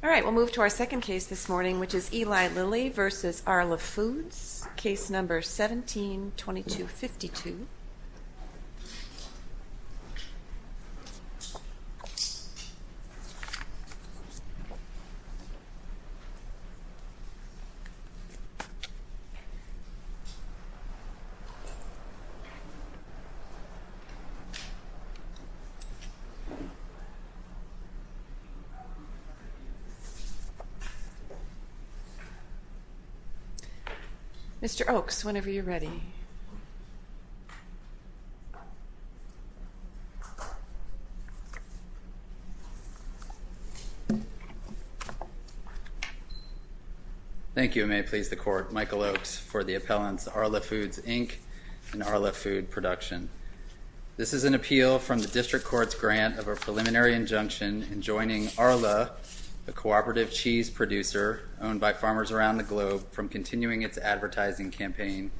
Alright, we'll move to our second case this morning, which is Eli Lilly v. Arla Foods USA. Case number 17-2252. Mr. Oaks, whenever you're ready. Thank you, and may it please the Court, Michael Oaks, for the appellants Arla Foods, Inc. and Arla Food Production. This is an appeal from the District Court's grant of a preliminary injunction in joining Arla, a cooperative cheese producer owned by farmers around the globe, from continuing its advertising campaign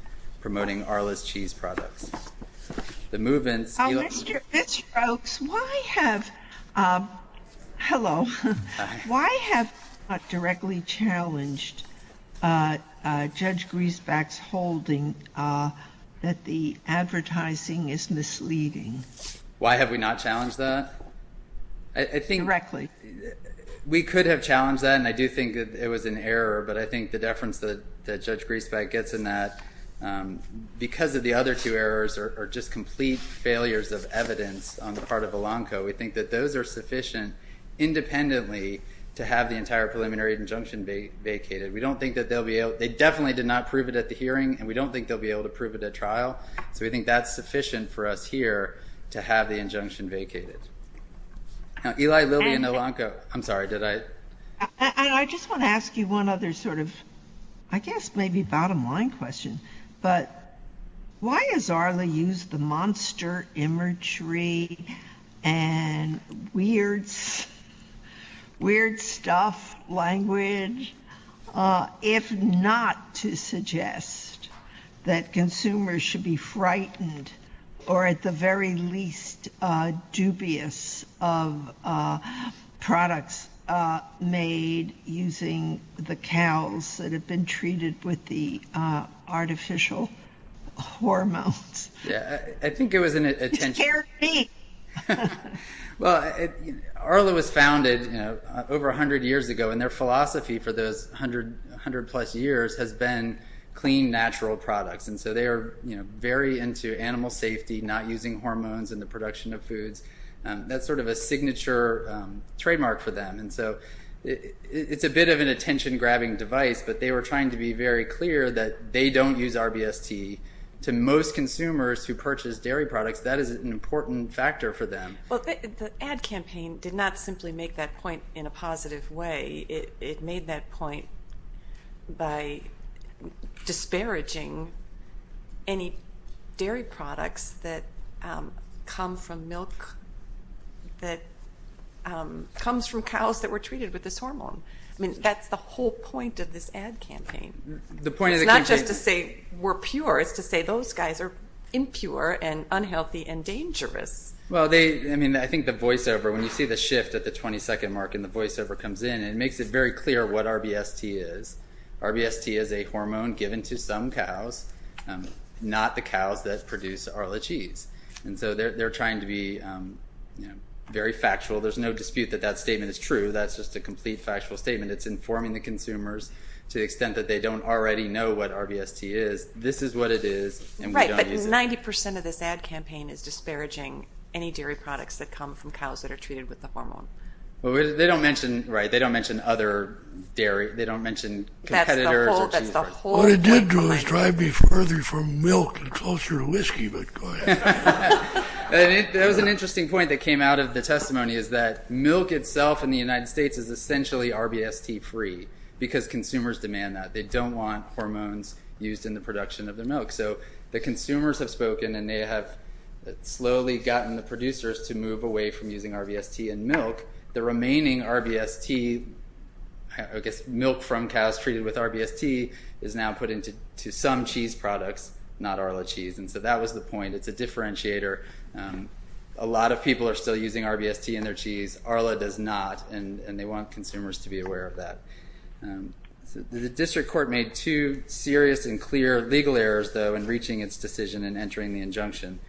promoting Arla's cheese products. The movement— Mr. Oaks, why have—hello. Why have you not directly challenged Judge Griesbach's holding that the advertising is misleading? Why have we not challenged that? I think— Directly. We could have challenged that, and I do think that it was an error, but I think the deference that Judge Griesbach gets in that, because of the other two errors are just complete failures of evidence on the part of ELANCO, we think that those are sufficient independently to have the entire preliminary injunction vacated. We don't think that they'll be able—they definitely did not prove it at the hearing, and we don't think they'll be able to prove it at trial, so we think that's sufficient for us here to have the injunction vacated. Now, Eli Lilly and ELANCO—I'm sorry, did I— I just want to ask you one other sort of, I guess, maybe bottom-line question, but why has Arla used the monster imagery and weird stuff language if not to suggest that consumers should be frightened or, at the very least, dubious of products made using the cows that have been treated with the artificial hormones? Yeah, I think it was an attention— You scared me! Well, Arla was founded over 100 years ago, and their philosophy for those 100-plus years has been clean, natural products, and so they are very into animal safety, not using hormones in the production of foods. That's sort of a signature trademark for them, and so it's a bit of an attention-grabbing device, but they were trying to be very clear that they don't use RBST. To most consumers who purchase dairy products, that is an important factor for them. Well, the ad campaign did not simply make that point in a positive way. It made that point by disparaging any dairy products that come from cows that were treated with this hormone. I mean, that's the whole point of this ad campaign. The point of the campaign— It's not just to say we're pure. It's to say those guys are impure and unhealthy and dangerous. Well, I mean, I think the voiceover, when you see the shift at the 22nd mark and the ad campaign, it makes it very clear what RBST is. RBST is a hormone given to some cows, not the cows that produce Arla cheese. And so they're trying to be very factual. There's no dispute that that statement is true. That's just a complete factual statement. It's informing the consumers to the extent that they don't already know what RBST is. This is what it is, and we don't use it. Right, but 90 percent of this ad campaign is disparaging any dairy products that come from cows that are treated with the hormone. Well, they don't mention—right, they don't mention other dairy. They don't mention competitors or cheese products. That's the whole point. What it did do is drive me further from milk and closer to whiskey, but go ahead. That was an interesting point that came out of the testimony, is that milk itself in the United States is essentially RBST-free, because consumers demand that. They don't want hormones used in the production of their milk. So the consumers have spoken, and they have slowly gotten the producers to move away from using RBST in milk. The remaining RBST—I guess milk from cows treated with RBST—is now put into some cheese products, not Arla cheese, and so that was the point. It's a differentiator. A lot of people are still using RBST in their cheese. Arla does not, and they want consumers to be aware of that. The district court made two serious and clear legal errors, though, in reaching its decision and entering the injunction.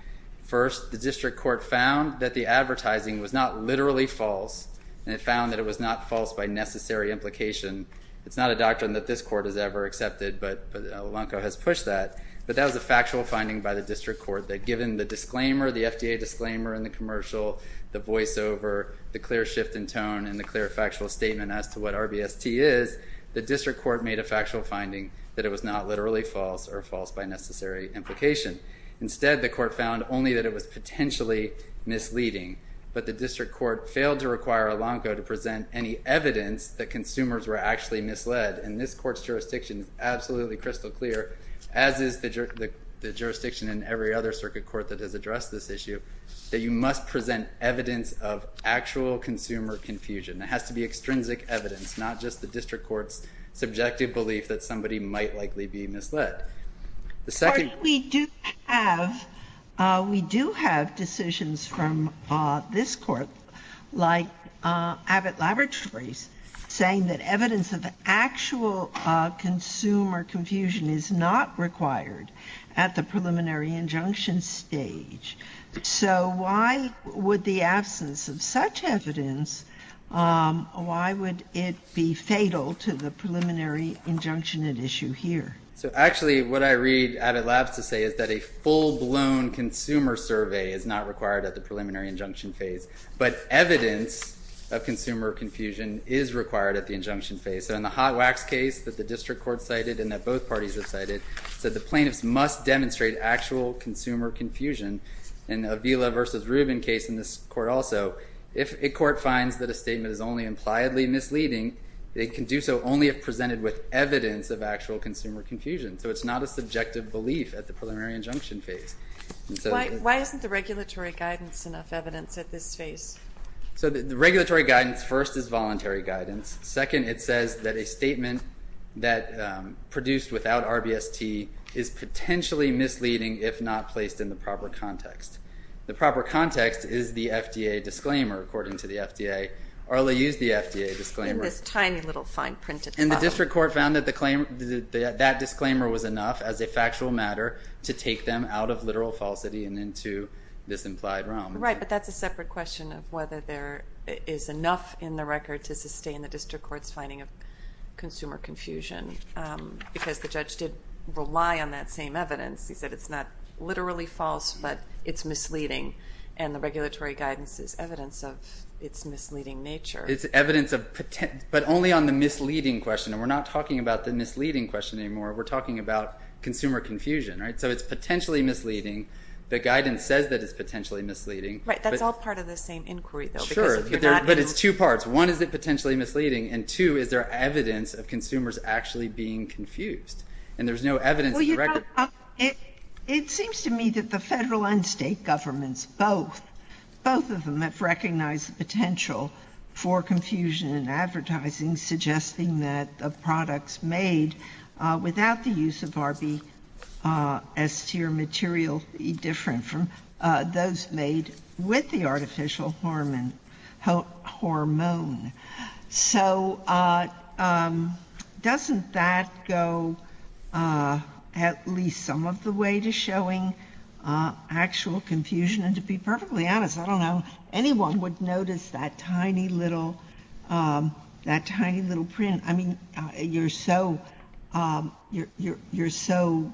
First, the district court found that the advertising was not literally false, and it found that it was not false by necessary implication. It's not a doctrine that this court has ever accepted, but Alonco has pushed that. But that was a factual finding by the district court that given the disclaimer, the FDA disclaimer in the commercial, the voiceover, the clear shift in tone, and the clear factual statement as to what RBST is, the district court made a factual finding that it was not literally false or false by necessary implication. Instead, the court found only that it was potentially misleading, but the district court failed to require Alonco to present any evidence that consumers were actually misled, and this court's jurisdiction is absolutely crystal clear, as is the jurisdiction in every other circuit court that has addressed this issue, that you must present evidence of actual consumer confusion. It has to be extrinsic evidence, not just the district court's subjective belief that somebody might likely be misled. The second... But we do have decisions from this court, like Abbott Laboratories, saying that evidence of actual consumer confusion is not required at the preliminary injunction stage. So why would the absence of such evidence, why would it be fatal to the preliminary injunction at issue here? So actually, what I read Abbott Labs to say is that a full-blown consumer survey is not required at the preliminary injunction phase, but evidence of consumer confusion is required at the injunction phase. So in the hot wax case that the district court cited and that both parties have cited, said the plaintiffs must demonstrate actual consumer confusion, and Avila v. Rubin case in this court also, if a court finds that a statement is only impliedly misleading, they can do so only if presented with evidence of actual consumer confusion. So it's not a subjective belief at the preliminary injunction phase. Why isn't the regulatory guidance enough evidence at this phase? So the regulatory guidance, first, is voluntary guidance. Second, it says that a statement that produced without RBST is potentially misleading if not placed in the proper context. The proper context is the FDA disclaimer, according to the FDA. Arla used the FDA disclaimer. In this tiny little fine print at the bottom. And the district court found that that disclaimer was enough as a factual matter to take them out of literal falsity and into this implied realm. Right, but that's a separate question of whether there is enough in the record to sustain the district court's finding of consumer confusion, because the judge did rely on that same evidence. He said it's not literally false, but it's misleading, and the regulatory guidance is evidence of its misleading nature. It's evidence of, but only on the misleading question, and we're not talking about the misleading question anymore. We're talking about consumer confusion, right? So it's potentially misleading. The guidance says that it's potentially misleading. Right. That's all part of the same inquiry, though. Sure. Because if you're not... But it's two parts. One, is it potentially misleading? And two, is there evidence of consumers actually being confused? And there's no evidence in the record... It seems to me that the federal and state governments, both, both of them have recognized the potential for confusion in advertising, suggesting that the products made without the use of RBST are materially different from those made with the artificial hormone. So doesn't that go at least some of the way to showing actual confusion? And to be perfectly honest, I don't know, anyone would notice that tiny little, that tiny little print. I mean, you're so, you're so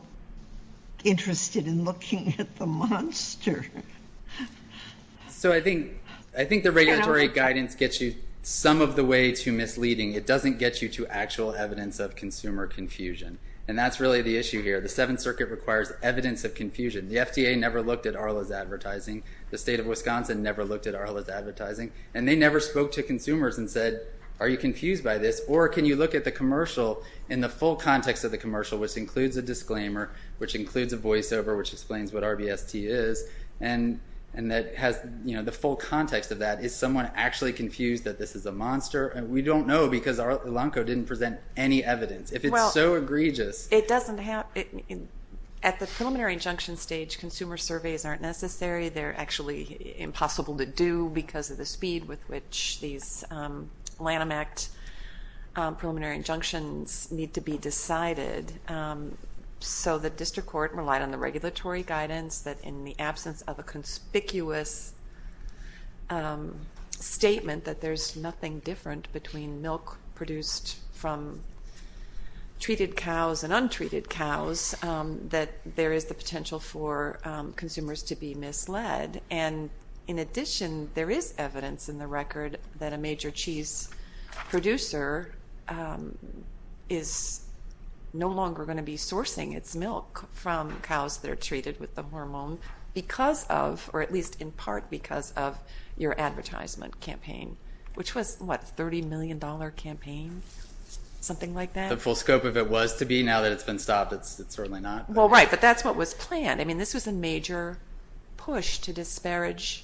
interested in looking at the monster. So I think, I think the regulatory guidance gets you some of the way to misleading. It doesn't get you to actual evidence of consumer confusion, and that's really the issue here. The Seventh Circuit requires evidence of confusion. The FDA never looked at Arla's advertising. The state of Wisconsin never looked at Arla's advertising. And they never spoke to consumers and said, are you confused by this? Or can you look at the commercial in the full context of the commercial, which includes a disclaimer, which includes a voiceover, which explains what RBST is. And that has, you know, the full context of that. Is someone actually confused that this is a monster? And we don't know because Arla Elanco didn't present any evidence. If it's so egregious... At the preliminary injunction stage, consumer surveys aren't necessary. They're actually impossible to do because of the speed with which these Lanham Act preliminary injunctions need to be decided. So the district court relied on the regulatory guidance that in the absence of a conspicuous statement that there's nothing different between milk produced from treated cows and untreated cows that there is the potential for consumers to be misled. And in addition, there is evidence in the record that a major cheese producer is no longer going to be sourcing its milk from cows that are treated with the hormone because of, or at least in part because of, your advertisement campaign, which was, what, a $30 million campaign? Something like that? The full scope of it was to be. Now that it's been stopped, it's certainly not. Well, right. But that's what was planned. I mean, this was a major push to disparage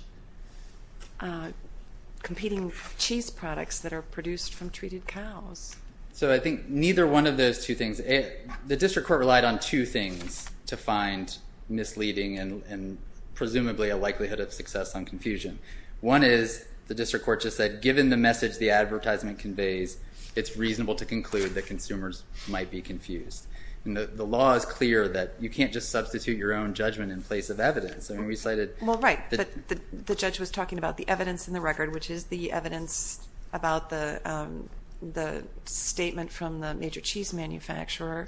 competing cheese products that are produced from treated cows. So I think neither one of those two things... The district court relied on two things to find misleading and presumably a likelihood of success on confusion. One is, the district court just said, given the message the advertisement conveys, it's reasonable to conclude that consumers might be confused. The law is clear that you can't just substitute your own judgment in place of evidence. I mean, we cited... Well, right. But the judge was talking about the evidence in the record, which is the evidence about the statement from the major cheese manufacturer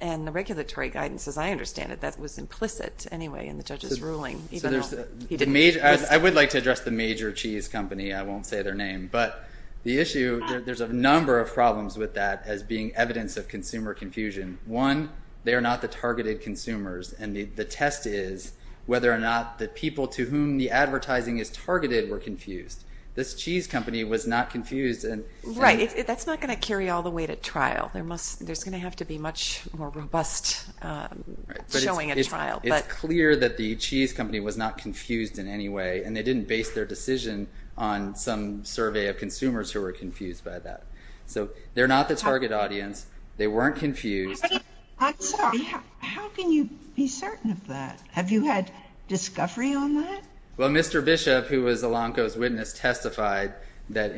and the regulatory guidance, as I understand it, that was implicit, anyway, in the judge's ruling, even though he didn't... I would like to address the major cheese company. I won't say their name. But the issue... There's a number of problems with that as being evidence of consumer confusion. One, they are not the targeted consumers, and the test is whether or not the people to whom the advertising is targeted were confused. This cheese company was not confused, and... Right. That's not going to carry all the way to trial. There's going to have to be much more robust showing at trial, but... It's clear that the cheese company was not confused in any way, and they didn't base their decision on some survey of consumers who were confused by that. So they're not the target audience. They weren't confused. I'm sorry. How can you be certain of that? Have you had discovery on that? Well, Mr. Bishop, who was Elanco's witness, testified that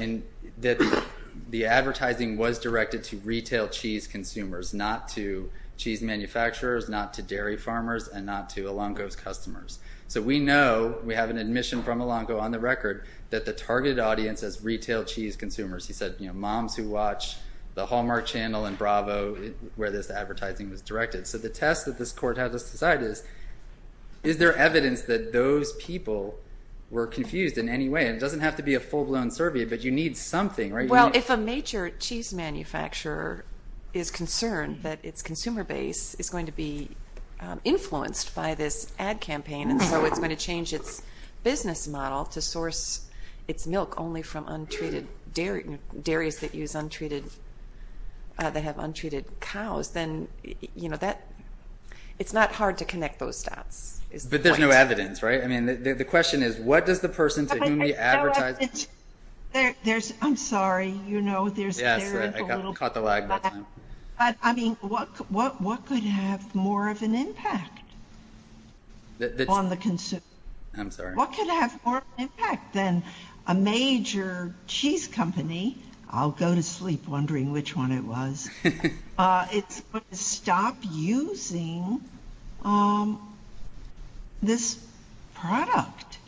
the advertising was directed to retail cheese consumers, not to cheese manufacturers, not to dairy farmers, and not to Elanco's customers. So we know, we have an admission from Elanco on the record, that the targeted audience is retail cheese consumers. He said, you know, moms who watch the Hallmark Channel and Bravo, where this advertising was directed. So the test that this court has to decide is, is there evidence that those people were confused in any way? And it doesn't have to be a full-blown survey, but you need something, right? Well, if a major cheese manufacturer is concerned that its consumer base is going to be influenced by this ad campaign, and so it's going to change its business model to source its milk only from untreated dairies that use untreated, that have untreated cows, then, you know, it's not hard to connect those dots. But there's no evidence, right? I mean, the question is, what does the person to whom you advertise... I'm sorry. You know, there's... Yes, right. I caught the lag that time. But, I mean, what could have more of an impact on the consumer? I'm sorry. What could have more of an impact than a major cheese company, I'll go to sleep wondering which one it was, it's going to stop using this product.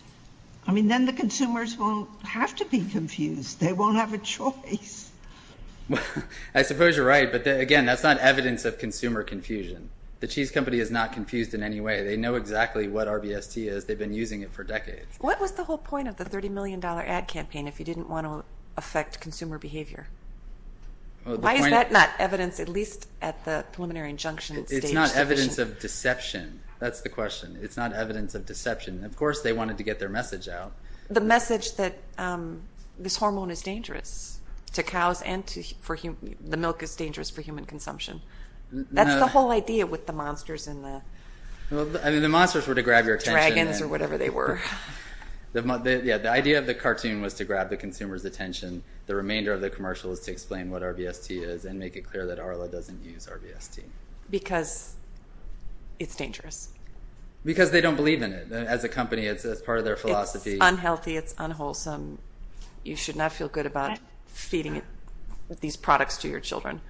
I mean, then the consumers won't have to be confused. They won't have a choice. I suppose you're right, but, again, that's not evidence of consumer confusion. The cheese company is not confused in any way. They know exactly what RBST is. They've been using it for decades. What was the whole point of the $30 million ad campaign if you didn't want to affect consumer behavior? Why is that not evidence, at least at the preliminary injunction stage? It's not evidence of deception. That's the question. It's not evidence of deception. And, of course, they wanted to get their message out. The message that this hormone is dangerous to cows and the milk is dangerous for human consumption. That's the whole idea with the monsters and the dragons or whatever they were. The idea of the cartoon was to grab the consumer's attention. The remainder of the commercial is to explain what RBST is and make it clear that Arla doesn't use RBST. Because it's dangerous. Because they don't believe in it. As a company, it's part of their philosophy. It's unhealthy. It's unwholesome. You should not feel good about feeding these products to your children.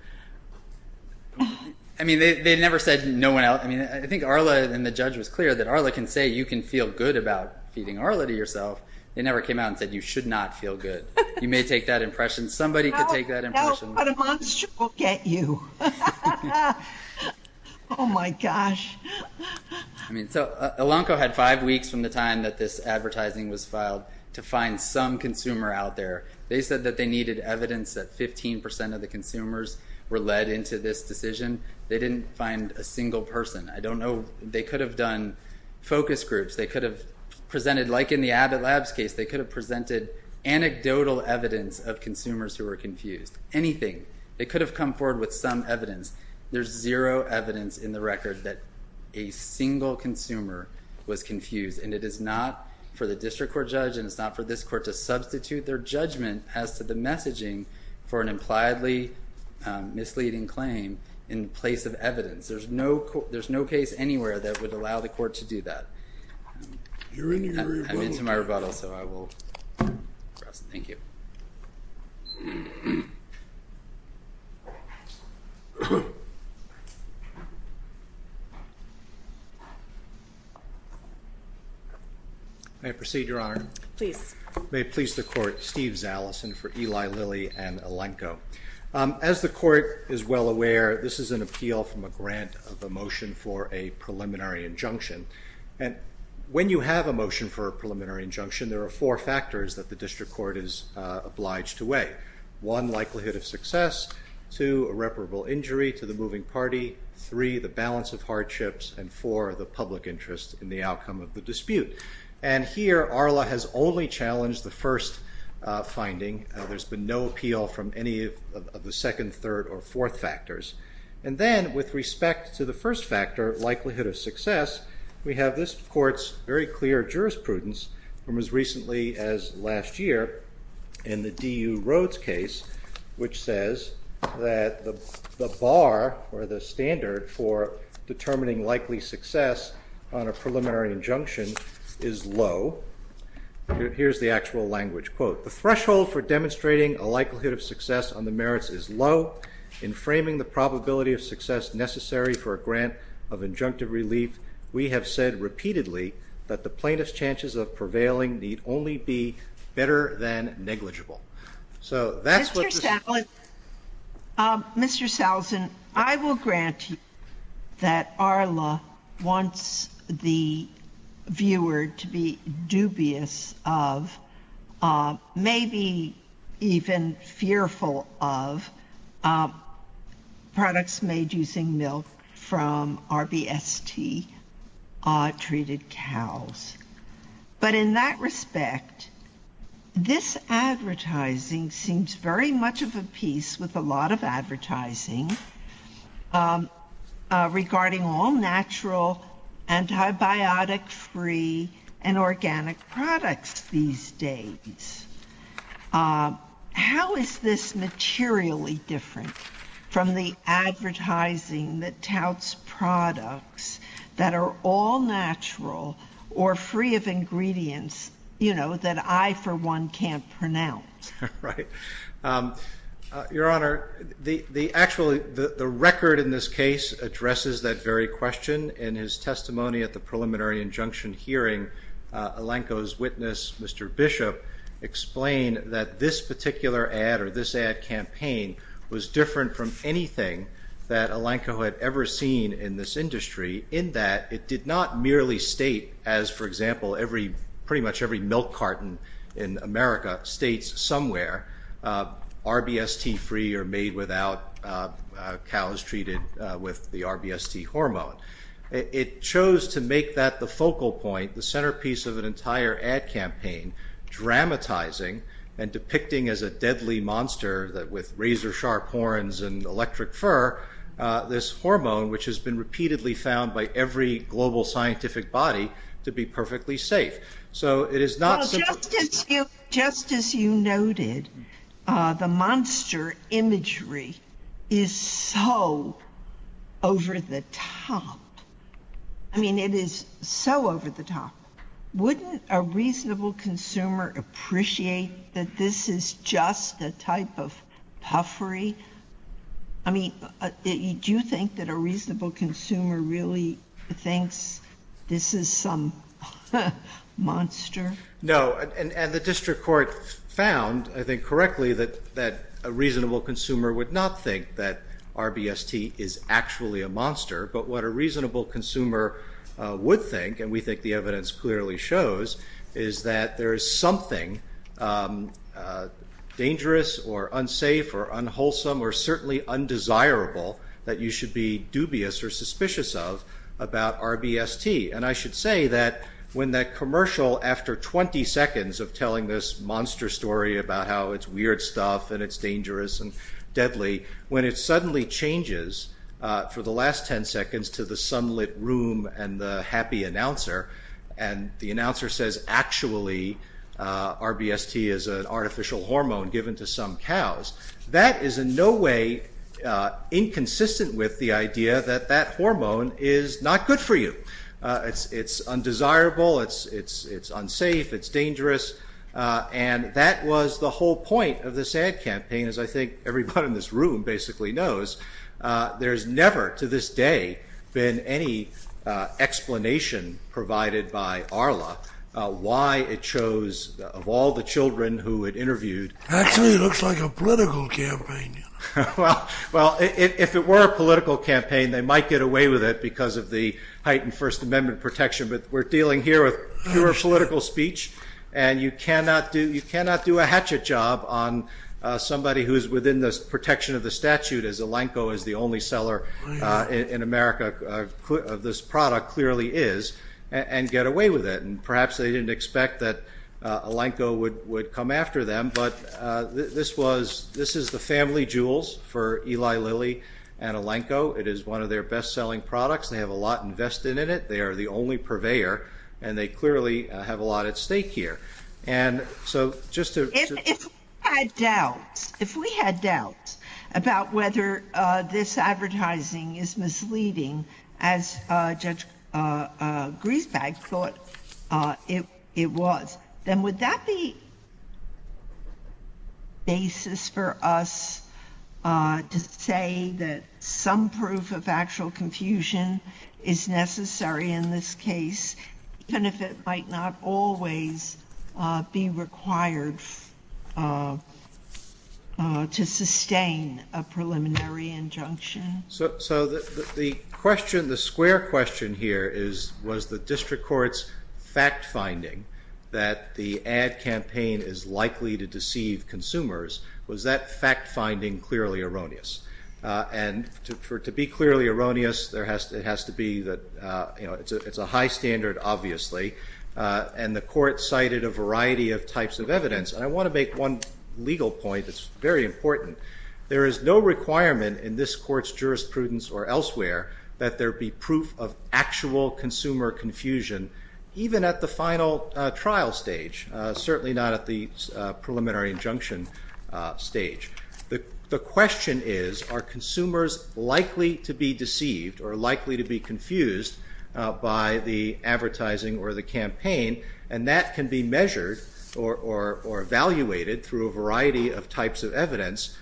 They never said no one else. I think Arla and the judge was clear that Arla can say you can feel good about feeding Arla to yourself. They never came out and said you should not feel good. You may take that impression. Somebody could take that impression. How else but a monster will get you? Oh my gosh. Alonco had five weeks from the time that this advertising was filed to find some consumer out there. They said that they needed evidence that 15% of the consumers were led into this decision. They didn't find a single person. I don't know. They could have done focus groups. They could have presented, like in the Abbott Labs case, they could have presented anecdotal evidence of consumers who were confused. Anything. They could have come forward with some evidence. There's zero evidence in the record that a single consumer was confused. It is not for the district court judge and it's not for this court to substitute their judgment as to the messaging for an impliedly misleading claim in place of evidence. There's no case anywhere that would allow the court to do that. You're into your rebuttal. I'm into my rebuttal, so I will cross. Thank you. May I proceed, Your Honor? Please. May it please the court. Steve Zalesin for Eli Lilly and Alonco. As the court is well aware, this is an appeal from a grant of a motion for a preliminary injunction and when you have a motion for a preliminary injunction, there are four factors that the district court is obliged to weigh. One, likelihood of success. Two, irreparable injury to the moving party. Three, the balance of hardships. And four, the public interest in the outcome of the dispute. And here, ARLA has only challenged the first finding. There's been no appeal from any of the second, third, or fourth factors. And then, with respect to the first factor, likelihood of success, we have this court's very clear jurisprudence from as recently as last year in the DU Rhodes case, which says that the bar or the standard for determining likely success on a preliminary injunction is low. Here's the actual language. Quote, the threshold for demonstrating a likelihood of success on the merits is low. In framing the probability of success necessary for a grant of injunctive relief, we have said repeatedly that the plaintiff's chances of prevailing need only be better than negligible. So that's what the... Mr. Salzin, I will grant you that ARLA wants the viewer to be dubious of, maybe even fearful of, products made using milk from RBST-treated cows. But in that respect, this advertising seems very much of a piece with a lot of advertising regarding all natural, antibiotic-free, and organic products these days. How is this materially different from the advertising that touts products that are all natural or free of ingredients, you know, that I, for one, can't pronounce? Right. Your Honor, the actually, the record in this case addresses that very question. In his testimony at the preliminary injunction hearing, Elanco's witness, Mr. Bishop, explained that this particular ad or this ad campaign was different from anything that Elanco had ever seen in this industry in that it did not merely state, as for example, pretty much every milk carton in America states somewhere, RBST-free or made without cows treated with the RBST hormone. It chose to make that the focal point, the centerpiece of an entire ad campaign, dramatizing and depicting as a deadly monster that with razor-sharp horns and electric fur, this hormone, which has been repeatedly found by every global scientific body, to be perfectly safe. So it is not simply... Well, just as you noted, the monster imagery is so over the top. I mean, it is so over the top. Wouldn't a reasonable consumer appreciate that this is just a type of puffery? I mean, do you think that a reasonable consumer really thinks this is some monster? No. And the district court found, I think correctly, that a reasonable consumer would not think that RBST is actually a monster. But what a reasonable consumer would think, and we think the evidence clearly shows, is that there is something dangerous or unsafe or unwholesome or certainly undesirable that you should be dubious or suspicious of about RBST. And I should say that when that commercial, after 20 seconds of telling this monster story about how it's weird stuff and it's dangerous and deadly, when it suddenly changes for the last 10 seconds to the sunlit room and the happy announcer, and the announcer says actually RBST is an artificial hormone given to some cows, that is in no way inconsistent with the idea that that hormone is not good for you. It's undesirable, it's unsafe, it's dangerous. And that was the whole point of this ad campaign, as I think everybody in this room basically knows. There's never, to this day, been any explanation provided by ARLA why it chose, of all the children who it interviewed... Actually, it looks like a political campaign. Well, if it were a political campaign, they might get away with it because of the heightened First Amendment protection, but we're dealing here with pure political speech, and you cannot do a hatchet job on somebody who is within the protection of the statute, as Elanco is the only seller in America of this product, clearly is, and get away with it. And perhaps they didn't expect that Elanco would come after them, but this is the family jewels for Eli Lilly and Elanco. It is one of their best-selling products, they have a lot invested in it, they are the only purveyor, and they clearly have a lot at stake here. And so, just to... If we had doubts, if we had doubts about whether this advertising is misleading, as Judge Griesbeck thought it was, then would that be the basis for us to say that some proof of actual confusion is necessary in this case, even if it might not always be required to sustain a preliminary injunction? So, the question, the square question here is, was the district court's fact-finding that the ad campaign is likely to deceive consumers, was that fact-finding clearly erroneous? And to be clearly erroneous, it has to be that it's a high standard, obviously, and the court cited a variety of types of evidence, and I want to make one legal point that's very important. There is no requirement in this court's jurisprudence or elsewhere that there be proof of actual consumer confusion, even at the final trial stage, certainly not at the preliminary injunction stage. The question is, are consumers likely to be deceived or likely to be confused by the advertising or the campaign? And that can be measured or evaluated through a variety of types of evidence,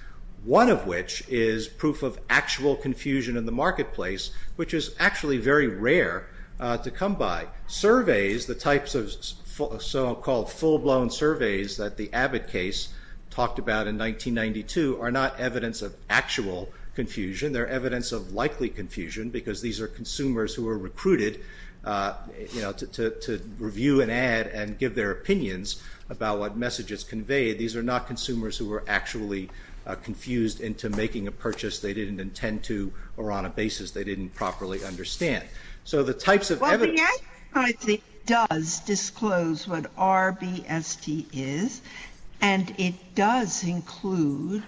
one of which is proof of actual confusion in the marketplace, which is actually very rare to come by. Surveys, the types of so-called full-blown surveys that the Abbott case talked about in 1992 are not evidence of actual confusion, they're evidence of likely confusion because these are consumers who were recruited to review an ad and give their opinions about what message it's conveyed. These are not consumers who were actually confused into making a purchase they didn't intend to or on a basis they didn't properly understand. So the types of evidence... Well, the advertising does disclose what RBSD is, and it does include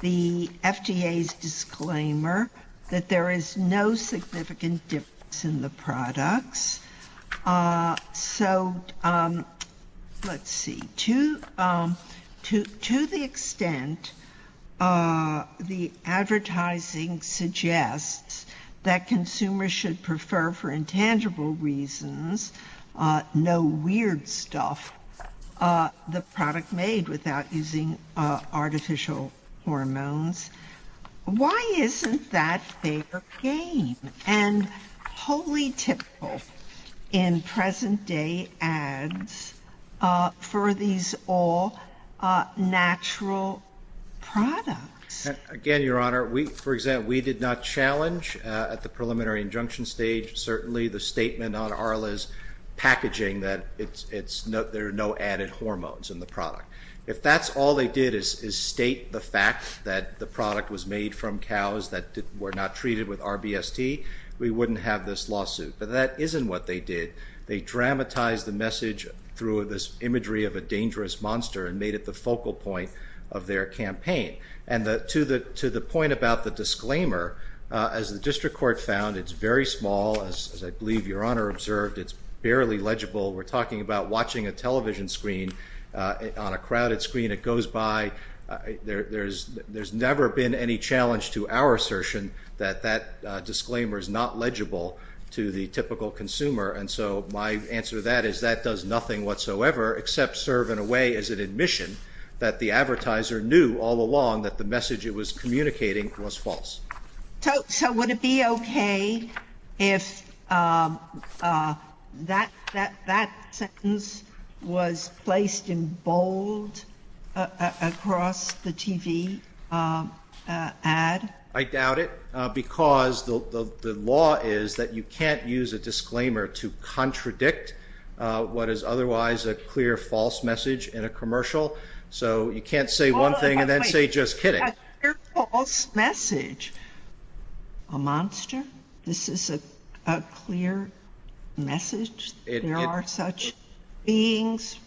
the FDA's disclaimer that there is no significant difference in the products. So, let's see, to the extent the advertising suggests that consumers should prefer for intangible reasons, no weird stuff, the product made without using artificial hormones, why isn't that fair game? And wholly typical in present-day ads for these all-natural products. Again, Your Honor, for example, we did not challenge at the preliminary injunction stage certainly the statement on Arla's packaging that there are no added hormones in the product. If that's all they did is state the fact that the product was made from cows that were not treated with RBSD, we wouldn't have this lawsuit. But that isn't what they did. They dramatized the message through this imagery of a dangerous monster and made it the focal point of their campaign. And to the point about the disclaimer, as the District Court found, it's very small, as I believe Your Honor observed, it's barely legible. We're talking about watching a television screen on a crowded screen. It goes by, there's never been any challenge to our assertion that that disclaimer is not legible to the typical consumer. And so my answer to that is that does nothing whatsoever except serve in a way as an admission that the advertiser knew all along that the message it was communicating was false. So would it be okay if that sentence was placed in bold across the TV ad? I doubt it because the law is that you can't use a disclaimer to contradict what is otherwise a clear false message in a commercial. So you can't say one thing and then say just kidding. A clear false message. A monster? This is a clear message? There are such beings?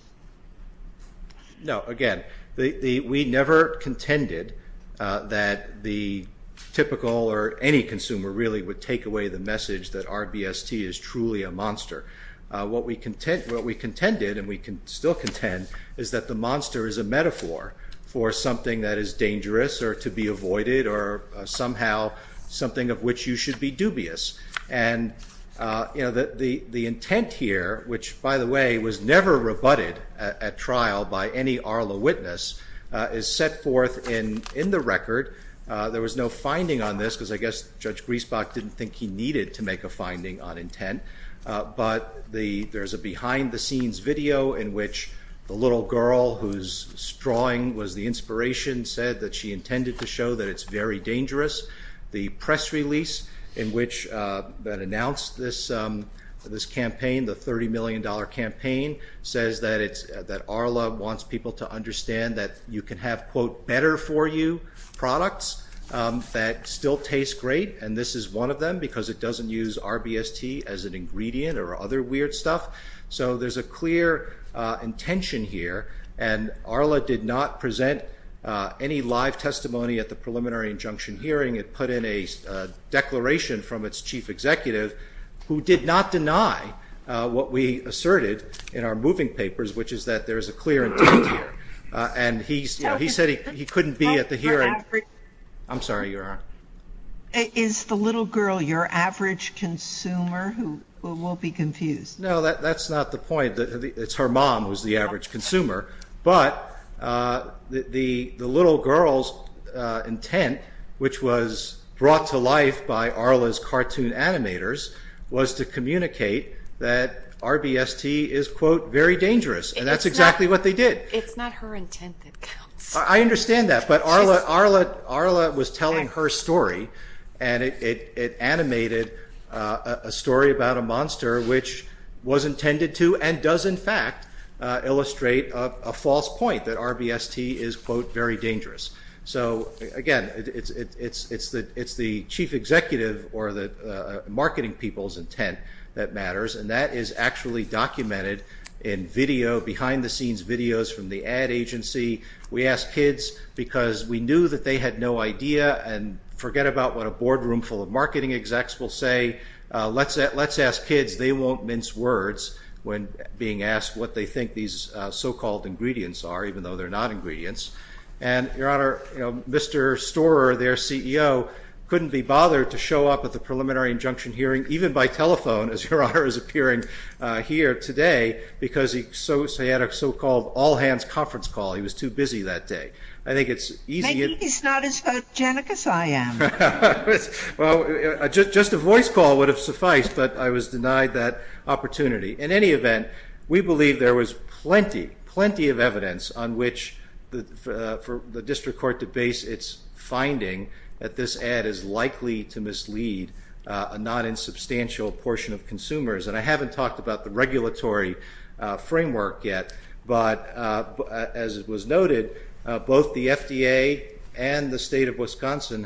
No, again, we never contended that the typical or any consumer really would take away the message that RBST is truly a monster. What we contended, and we still contend, is that the monster is a metaphor for something that is dangerous or to be avoided or somehow something of which you should be dubious. And the intent here, which by the way was never rebutted at trial by any Arla witness, is set forth in the record. There was no finding on this because I guess Judge Griesbach didn't think he needed to make a finding on intent. But there's a behind the scenes video in which the little girl whose drawing was the inspiration said that she intended to show that it's very dangerous. The press release that announced this campaign, the $30 million campaign, says that Arla wants people to understand that you can have, quote, better for you products that still taste great and this is one of them because it doesn't use RBST as an ingredient or other weird stuff. So there's a clear intention here and Arla did not present any live testimony at the preliminary injunction hearing. It put in a declaration from its chief executive who did not deny what we asserted in our moving papers, which is that there is a clear intent here. And he said he couldn't be at the hearing. I'm sorry, Your Honor. Is the little girl your average consumer? We'll be confused. No, that's not the point. It's her mom who's the average consumer, but the little girl's intent, which was brought to life by Arla's cartoon animators, was to communicate that RBST is, quote, very dangerous and that's exactly what they did. It's not her intent that counts. I understand that, but Arla was telling her story and it animated a story about a monster which was intended to and does in fact illustrate a false point that RBST is, quote, very dangerous. So again, it's the chief executive or the marketing people's intent that matters and that is actually documented in video, behind the scenes videos from the ad agency. We asked kids because we knew that they had no idea and forget about what a boardroom full of marketing execs will say. Let's ask kids. They won't mince words when being asked what they think these so-called ingredients are, even though they're not ingredients. And Your Honor, Mr. Storer, their CEO, couldn't be bothered to show up at the preliminary injunction hearing, even by telephone, as Your Honor is appearing here today, because he had a so-called all-hands conference call. He was too busy that day. I think it's easy to- Maybe he's not as hygienic as I am. Well, just a voice call would have sufficed, but I was denied that opportunity. In any event, we believe there was plenty, plenty of evidence on which for the district court to base its finding that this ad is likely to mislead a non-insubstantial portion of consumers. And I haven't talked about the regulatory framework yet, but as it was noted, both the district court and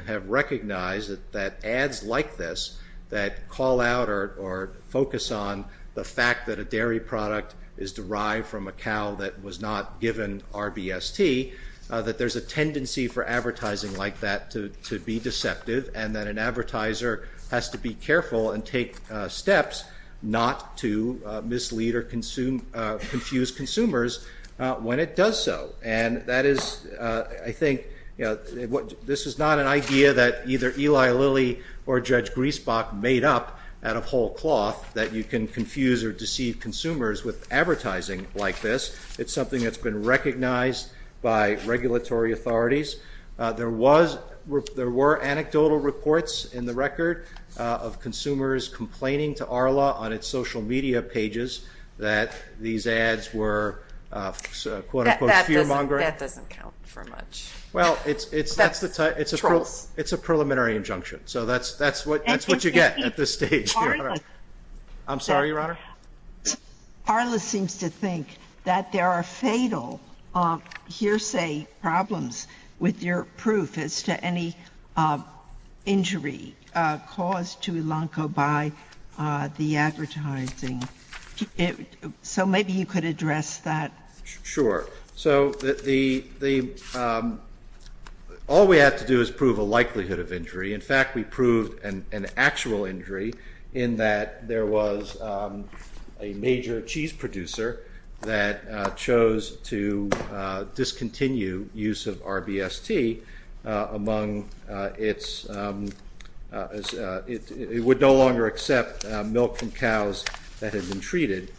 I recognize that ads like this that call out or focus on the fact that a dairy product is derived from a cow that was not given RBST, that there's a tendency for advertising like that to be deceptive, and that an advertiser has to be careful and take steps not to mislead or confuse consumers when it does so. And that is, I think, this is not an idea that either Eli Lilly or Judge Griesbach made up out of whole cloth that you can confuse or deceive consumers with advertising like this. It's something that's been recognized by regulatory authorities. There were anecdotal reports in the record of consumers complaining to ARLA on its social media pages that these ads were, quote-unquote, fear-mongering. That doesn't count for much. Well, it's a preliminary injunction. So that's what you get at this stage, Your Honor. I'm sorry, Your Honor? ARLA seems to think that there are fatal hearsay problems with your proof as to any injury caused to Ilanco by the advertising. So maybe you could address that. Sure. So all we have to do is prove a likelihood of injury. In fact, we proved an actual injury in that there was a major cheese producer that chose to discontinue use of RBST among its, it would no longer accept milk from cows that had been treated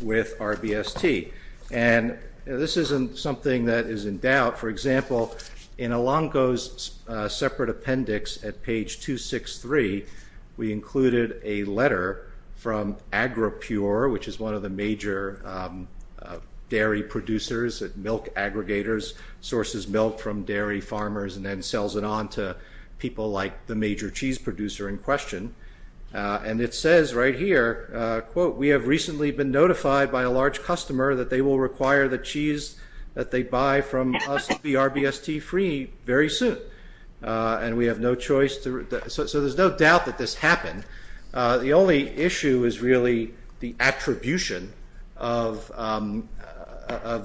with RBST. And this isn't something that is in doubt. For example, in Ilanco's separate appendix at page 263, we included a letter from AgriPure, which is one of the major dairy producers, milk aggregators, sources milk from dairy farmers and then sells it on to people like the major cheese producer in question. And it says right here, quote, we have recently been notified by a large customer that they will require the cheese that they buy from us to be RBST-free very soon. And we have no choice to, so there's no doubt that this happened. The only issue is really the attribution of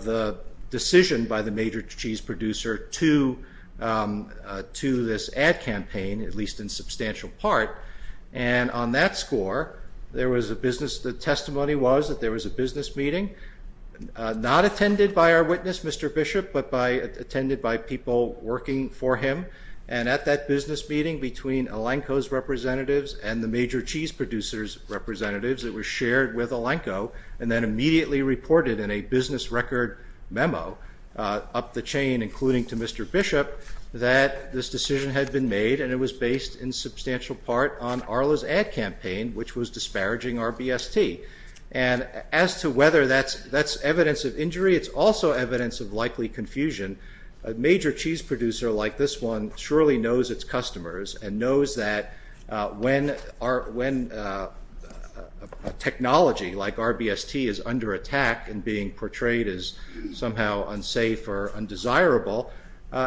the decision by the major cheese producer to this ad campaign, at least in substantial part. And on that score, there was a business, the testimony was that there was a business meeting, not attended by our witness, Mr. Bishop, but attended by people working for him. And at that business meeting between Ilanco's representatives and the major cheese producer's representatives, it was shared with Ilanco and then immediately reported in a business record memo up the chain, including to Mr. Bishop, that this decision had been made and it was based in substantial part on Arla's ad campaign, which was disparaging RBST. And as to whether that's evidence of injury, it's also evidence of likely confusion. A major cheese producer like this one surely knows its customers and knows that when technology like RBST is under attack and being portrayed as somehow unsafe or undesirable,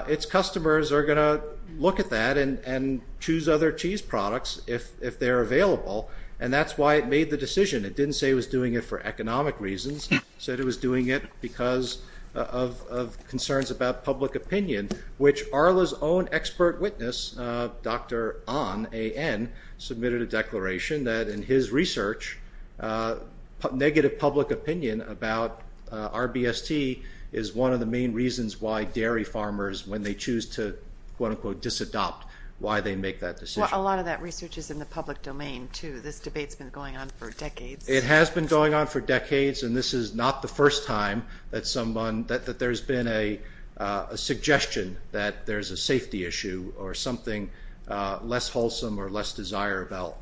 its customers are going to look at that and choose other cheese products if they're available. And that's why it made the decision. It didn't say it was doing it for economic reasons, said it was doing it because of concerns about public opinion, which Arla's own expert witness, Dr. Ahn, A-N, submitted a declaration that in his research, negative public opinion about RBST is one of the main reasons why dairy farmers, when they choose to, quote unquote, disadopt, why they make that decision. A lot of that research is in the public domain, too. This debate's been going on for decades. It has been going on for decades, and this is not the first time that someone, that there's been a suggestion that there's a safety issue or something less wholesome or less desirable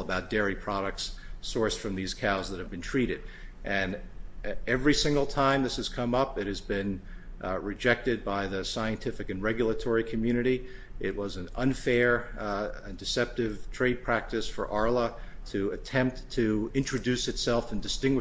about dairy products sourced from these cows that have been treated. And every single time this has come up, it has been rejected by the scientific and regulatory community. It was an unfair and deceptive trade practice for Arla to attempt to introduce itself and suggesting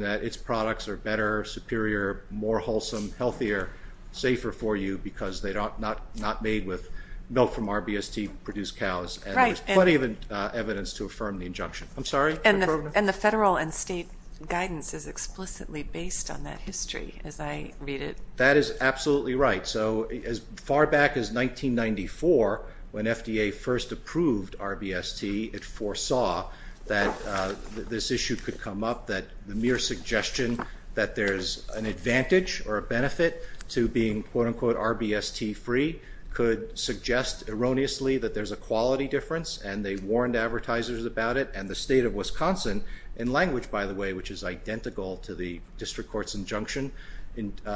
that its products are better, superior, more wholesome, healthier, safer for you because they're not made with milk from RBST-produced cows, and there's plenty of evidence to affirm the injunction. I'm sorry? And the federal and state guidance is explicitly based on that history, as I read it. That is absolutely right. So as far back as 1994, when FDA first approved RBST, it foresaw that this issue could come up, that the mere suggestion that there's an advantage or a benefit to being quote-unquote RBST-free could suggest erroneously that there's a quality difference, and they warned advertisers about it. And the state of Wisconsin, in language, by the way, which is identical to the district court's injunction,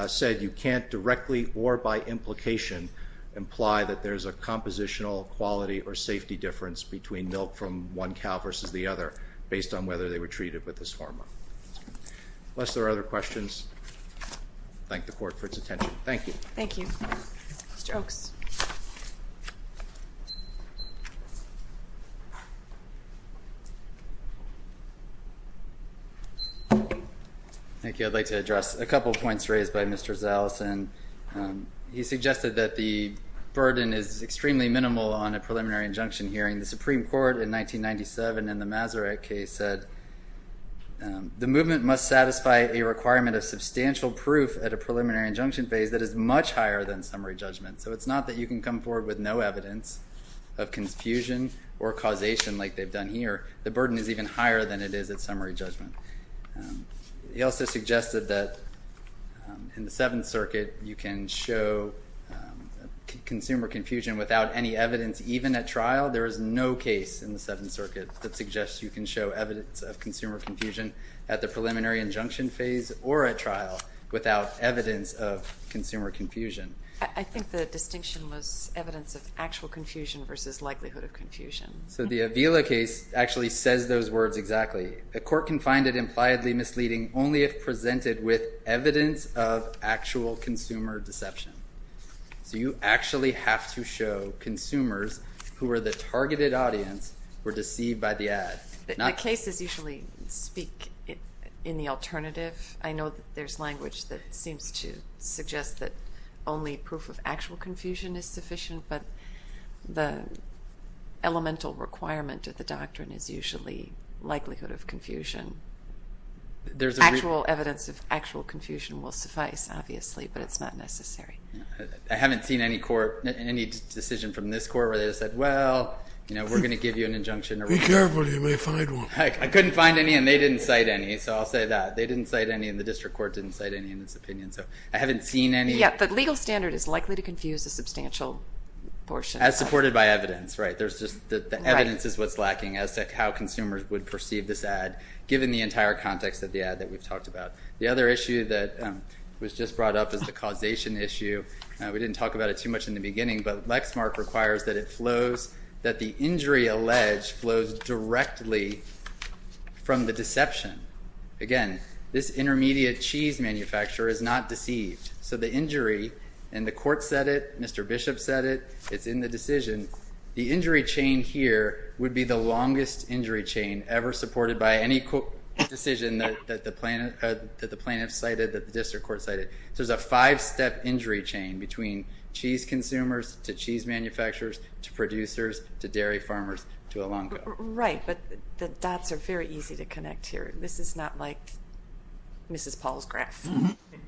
said you can't directly or by implication imply that there's a compositional quality or safety difference between milk from one cow versus the other based on whether they were treated with this hormone. Unless there are other questions, I thank the Court for its attention. Thank you. Thank you. Mr. Oaks. Thank you. I'd like to address a couple of points raised by Mr. Zaleson. He suggested that the burden is extremely minimal on a preliminary injunction hearing. The Supreme Court in 1997 in the Maseret case said the movement must satisfy a requirement of substantial proof at a preliminary injunction phase that is much higher than summary judgment. So it's not that you can come forward with no evidence of confusion or causation like they've done here. The burden is even higher than it is at summary judgment. He also suggested that in the Seventh Circuit, you can show consumer confusion without any evidence even at trial. There is no case in the Seventh Circuit that suggests you can show evidence of consumer confusion at the preliminary injunction phase or at trial without evidence of consumer confusion. I think the distinction was evidence of actual confusion versus likelihood of confusion. So the Avila case actually says those words exactly. A court can find it impliedly misleading only if presented with evidence of actual consumer deception. So you actually have to show consumers who are the targeted audience were deceived by the ad. The cases usually speak in the alternative. I know that there's language that seems to suggest that only proof of actual confusion is sufficient, but the elemental requirement of the doctrine is usually likelihood of confusion. Actual evidence of actual confusion will suffice, obviously, but it's not necessary. I haven't seen any court, any decision from this court where they said, well, we're going to give you an injunction. Be careful. You may find one. Heck, I couldn't find any, and they didn't cite any, so I'll say that. They didn't cite any, and the district court didn't cite any in its opinion, so I haven't seen any. Yeah, but legal standard is likely to confuse a substantial portion. As supported by evidence, right? There's just the evidence is what's lacking as to how consumers would perceive this ad given the entire context of the ad that we've talked about. The other issue that was just brought up is the causation issue. We didn't talk about it too much in the beginning, but Lexmark requires that it flows, that the injury alleged flows directly from the deception. Again, this intermediate cheese manufacturer is not deceived, so the injury, and the court said it, Mr. Bishop said it, it's in the decision. The injury chain here would be the longest injury chain ever supported by any decision that the plaintiff cited, that the district court cited. So it's a five-step injury chain between cheese consumers to cheese manufacturers to producers to dairy farmers to a long go. Right, but the dots are very easy to connect here. This is not like Mrs. Paul's graph.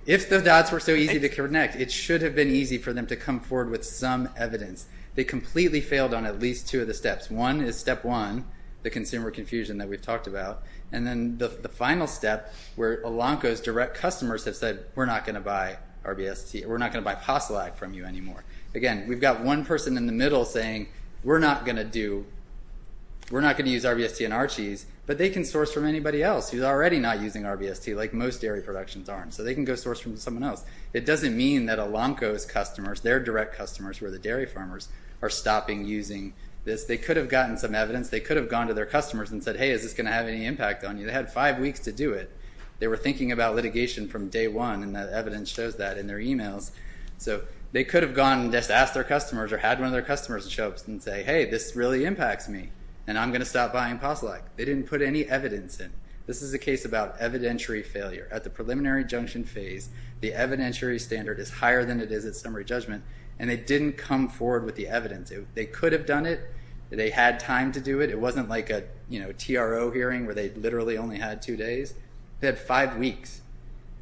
If the dots were so easy to connect, it should have been easy for them to come forward with some evidence. They completely failed on at least two of the steps. One is step one, the consumer confusion that we've talked about, and then the final step where Elanco's direct customers have said, we're not going to buy RBST, we're not going to buy PASLAG from you anymore. Again, we've got one person in the middle saying, we're not going to do, we're not going to use RBST in our cheese, but they can source from anybody else who's already not using RBST like most dairy productions aren't. So they can go source from someone else. It doesn't mean that Elanco's customers, their direct customers, who are the dairy farmers, are stopping using this. They could have gotten some evidence. They could have gone to their customers and said, hey, is this going to have any impact on you? They had five weeks to do it. They were thinking about litigation from day one, and that evidence shows that in their emails. So they could have gone and just asked their customers or had one of their customers show up and say, hey, this really impacts me, and I'm going to stop buying PASLAG. They didn't put any evidence in. This is a case about evidentiary failure. At the preliminary injunction phase, the evidentiary standard is higher than it is at summary judgment, and they didn't come forward with the evidence. They could have done it. They had time to do it. It wasn't like a TRO hearing where they literally only had two days. They had five weeks.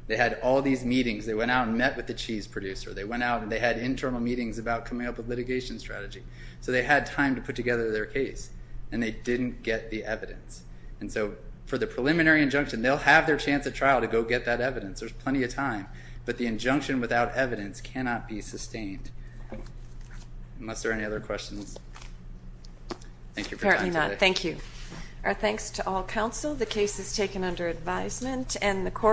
They had all these meetings. They went out and met with the cheese producer. They went out and they had internal meetings about coming up with litigation strategy. So they had time to put together their case, and they didn't get the evidence. And so for the preliminary injunction, they'll have their chance at trial to go get that evidence. There's plenty of time. But the injunction without evidence cannot be sustained, unless there are any other questions. Thank you for your time today. Apparently not. Thank you. Our thanks to all counsel. The case is taken under advisement, and the court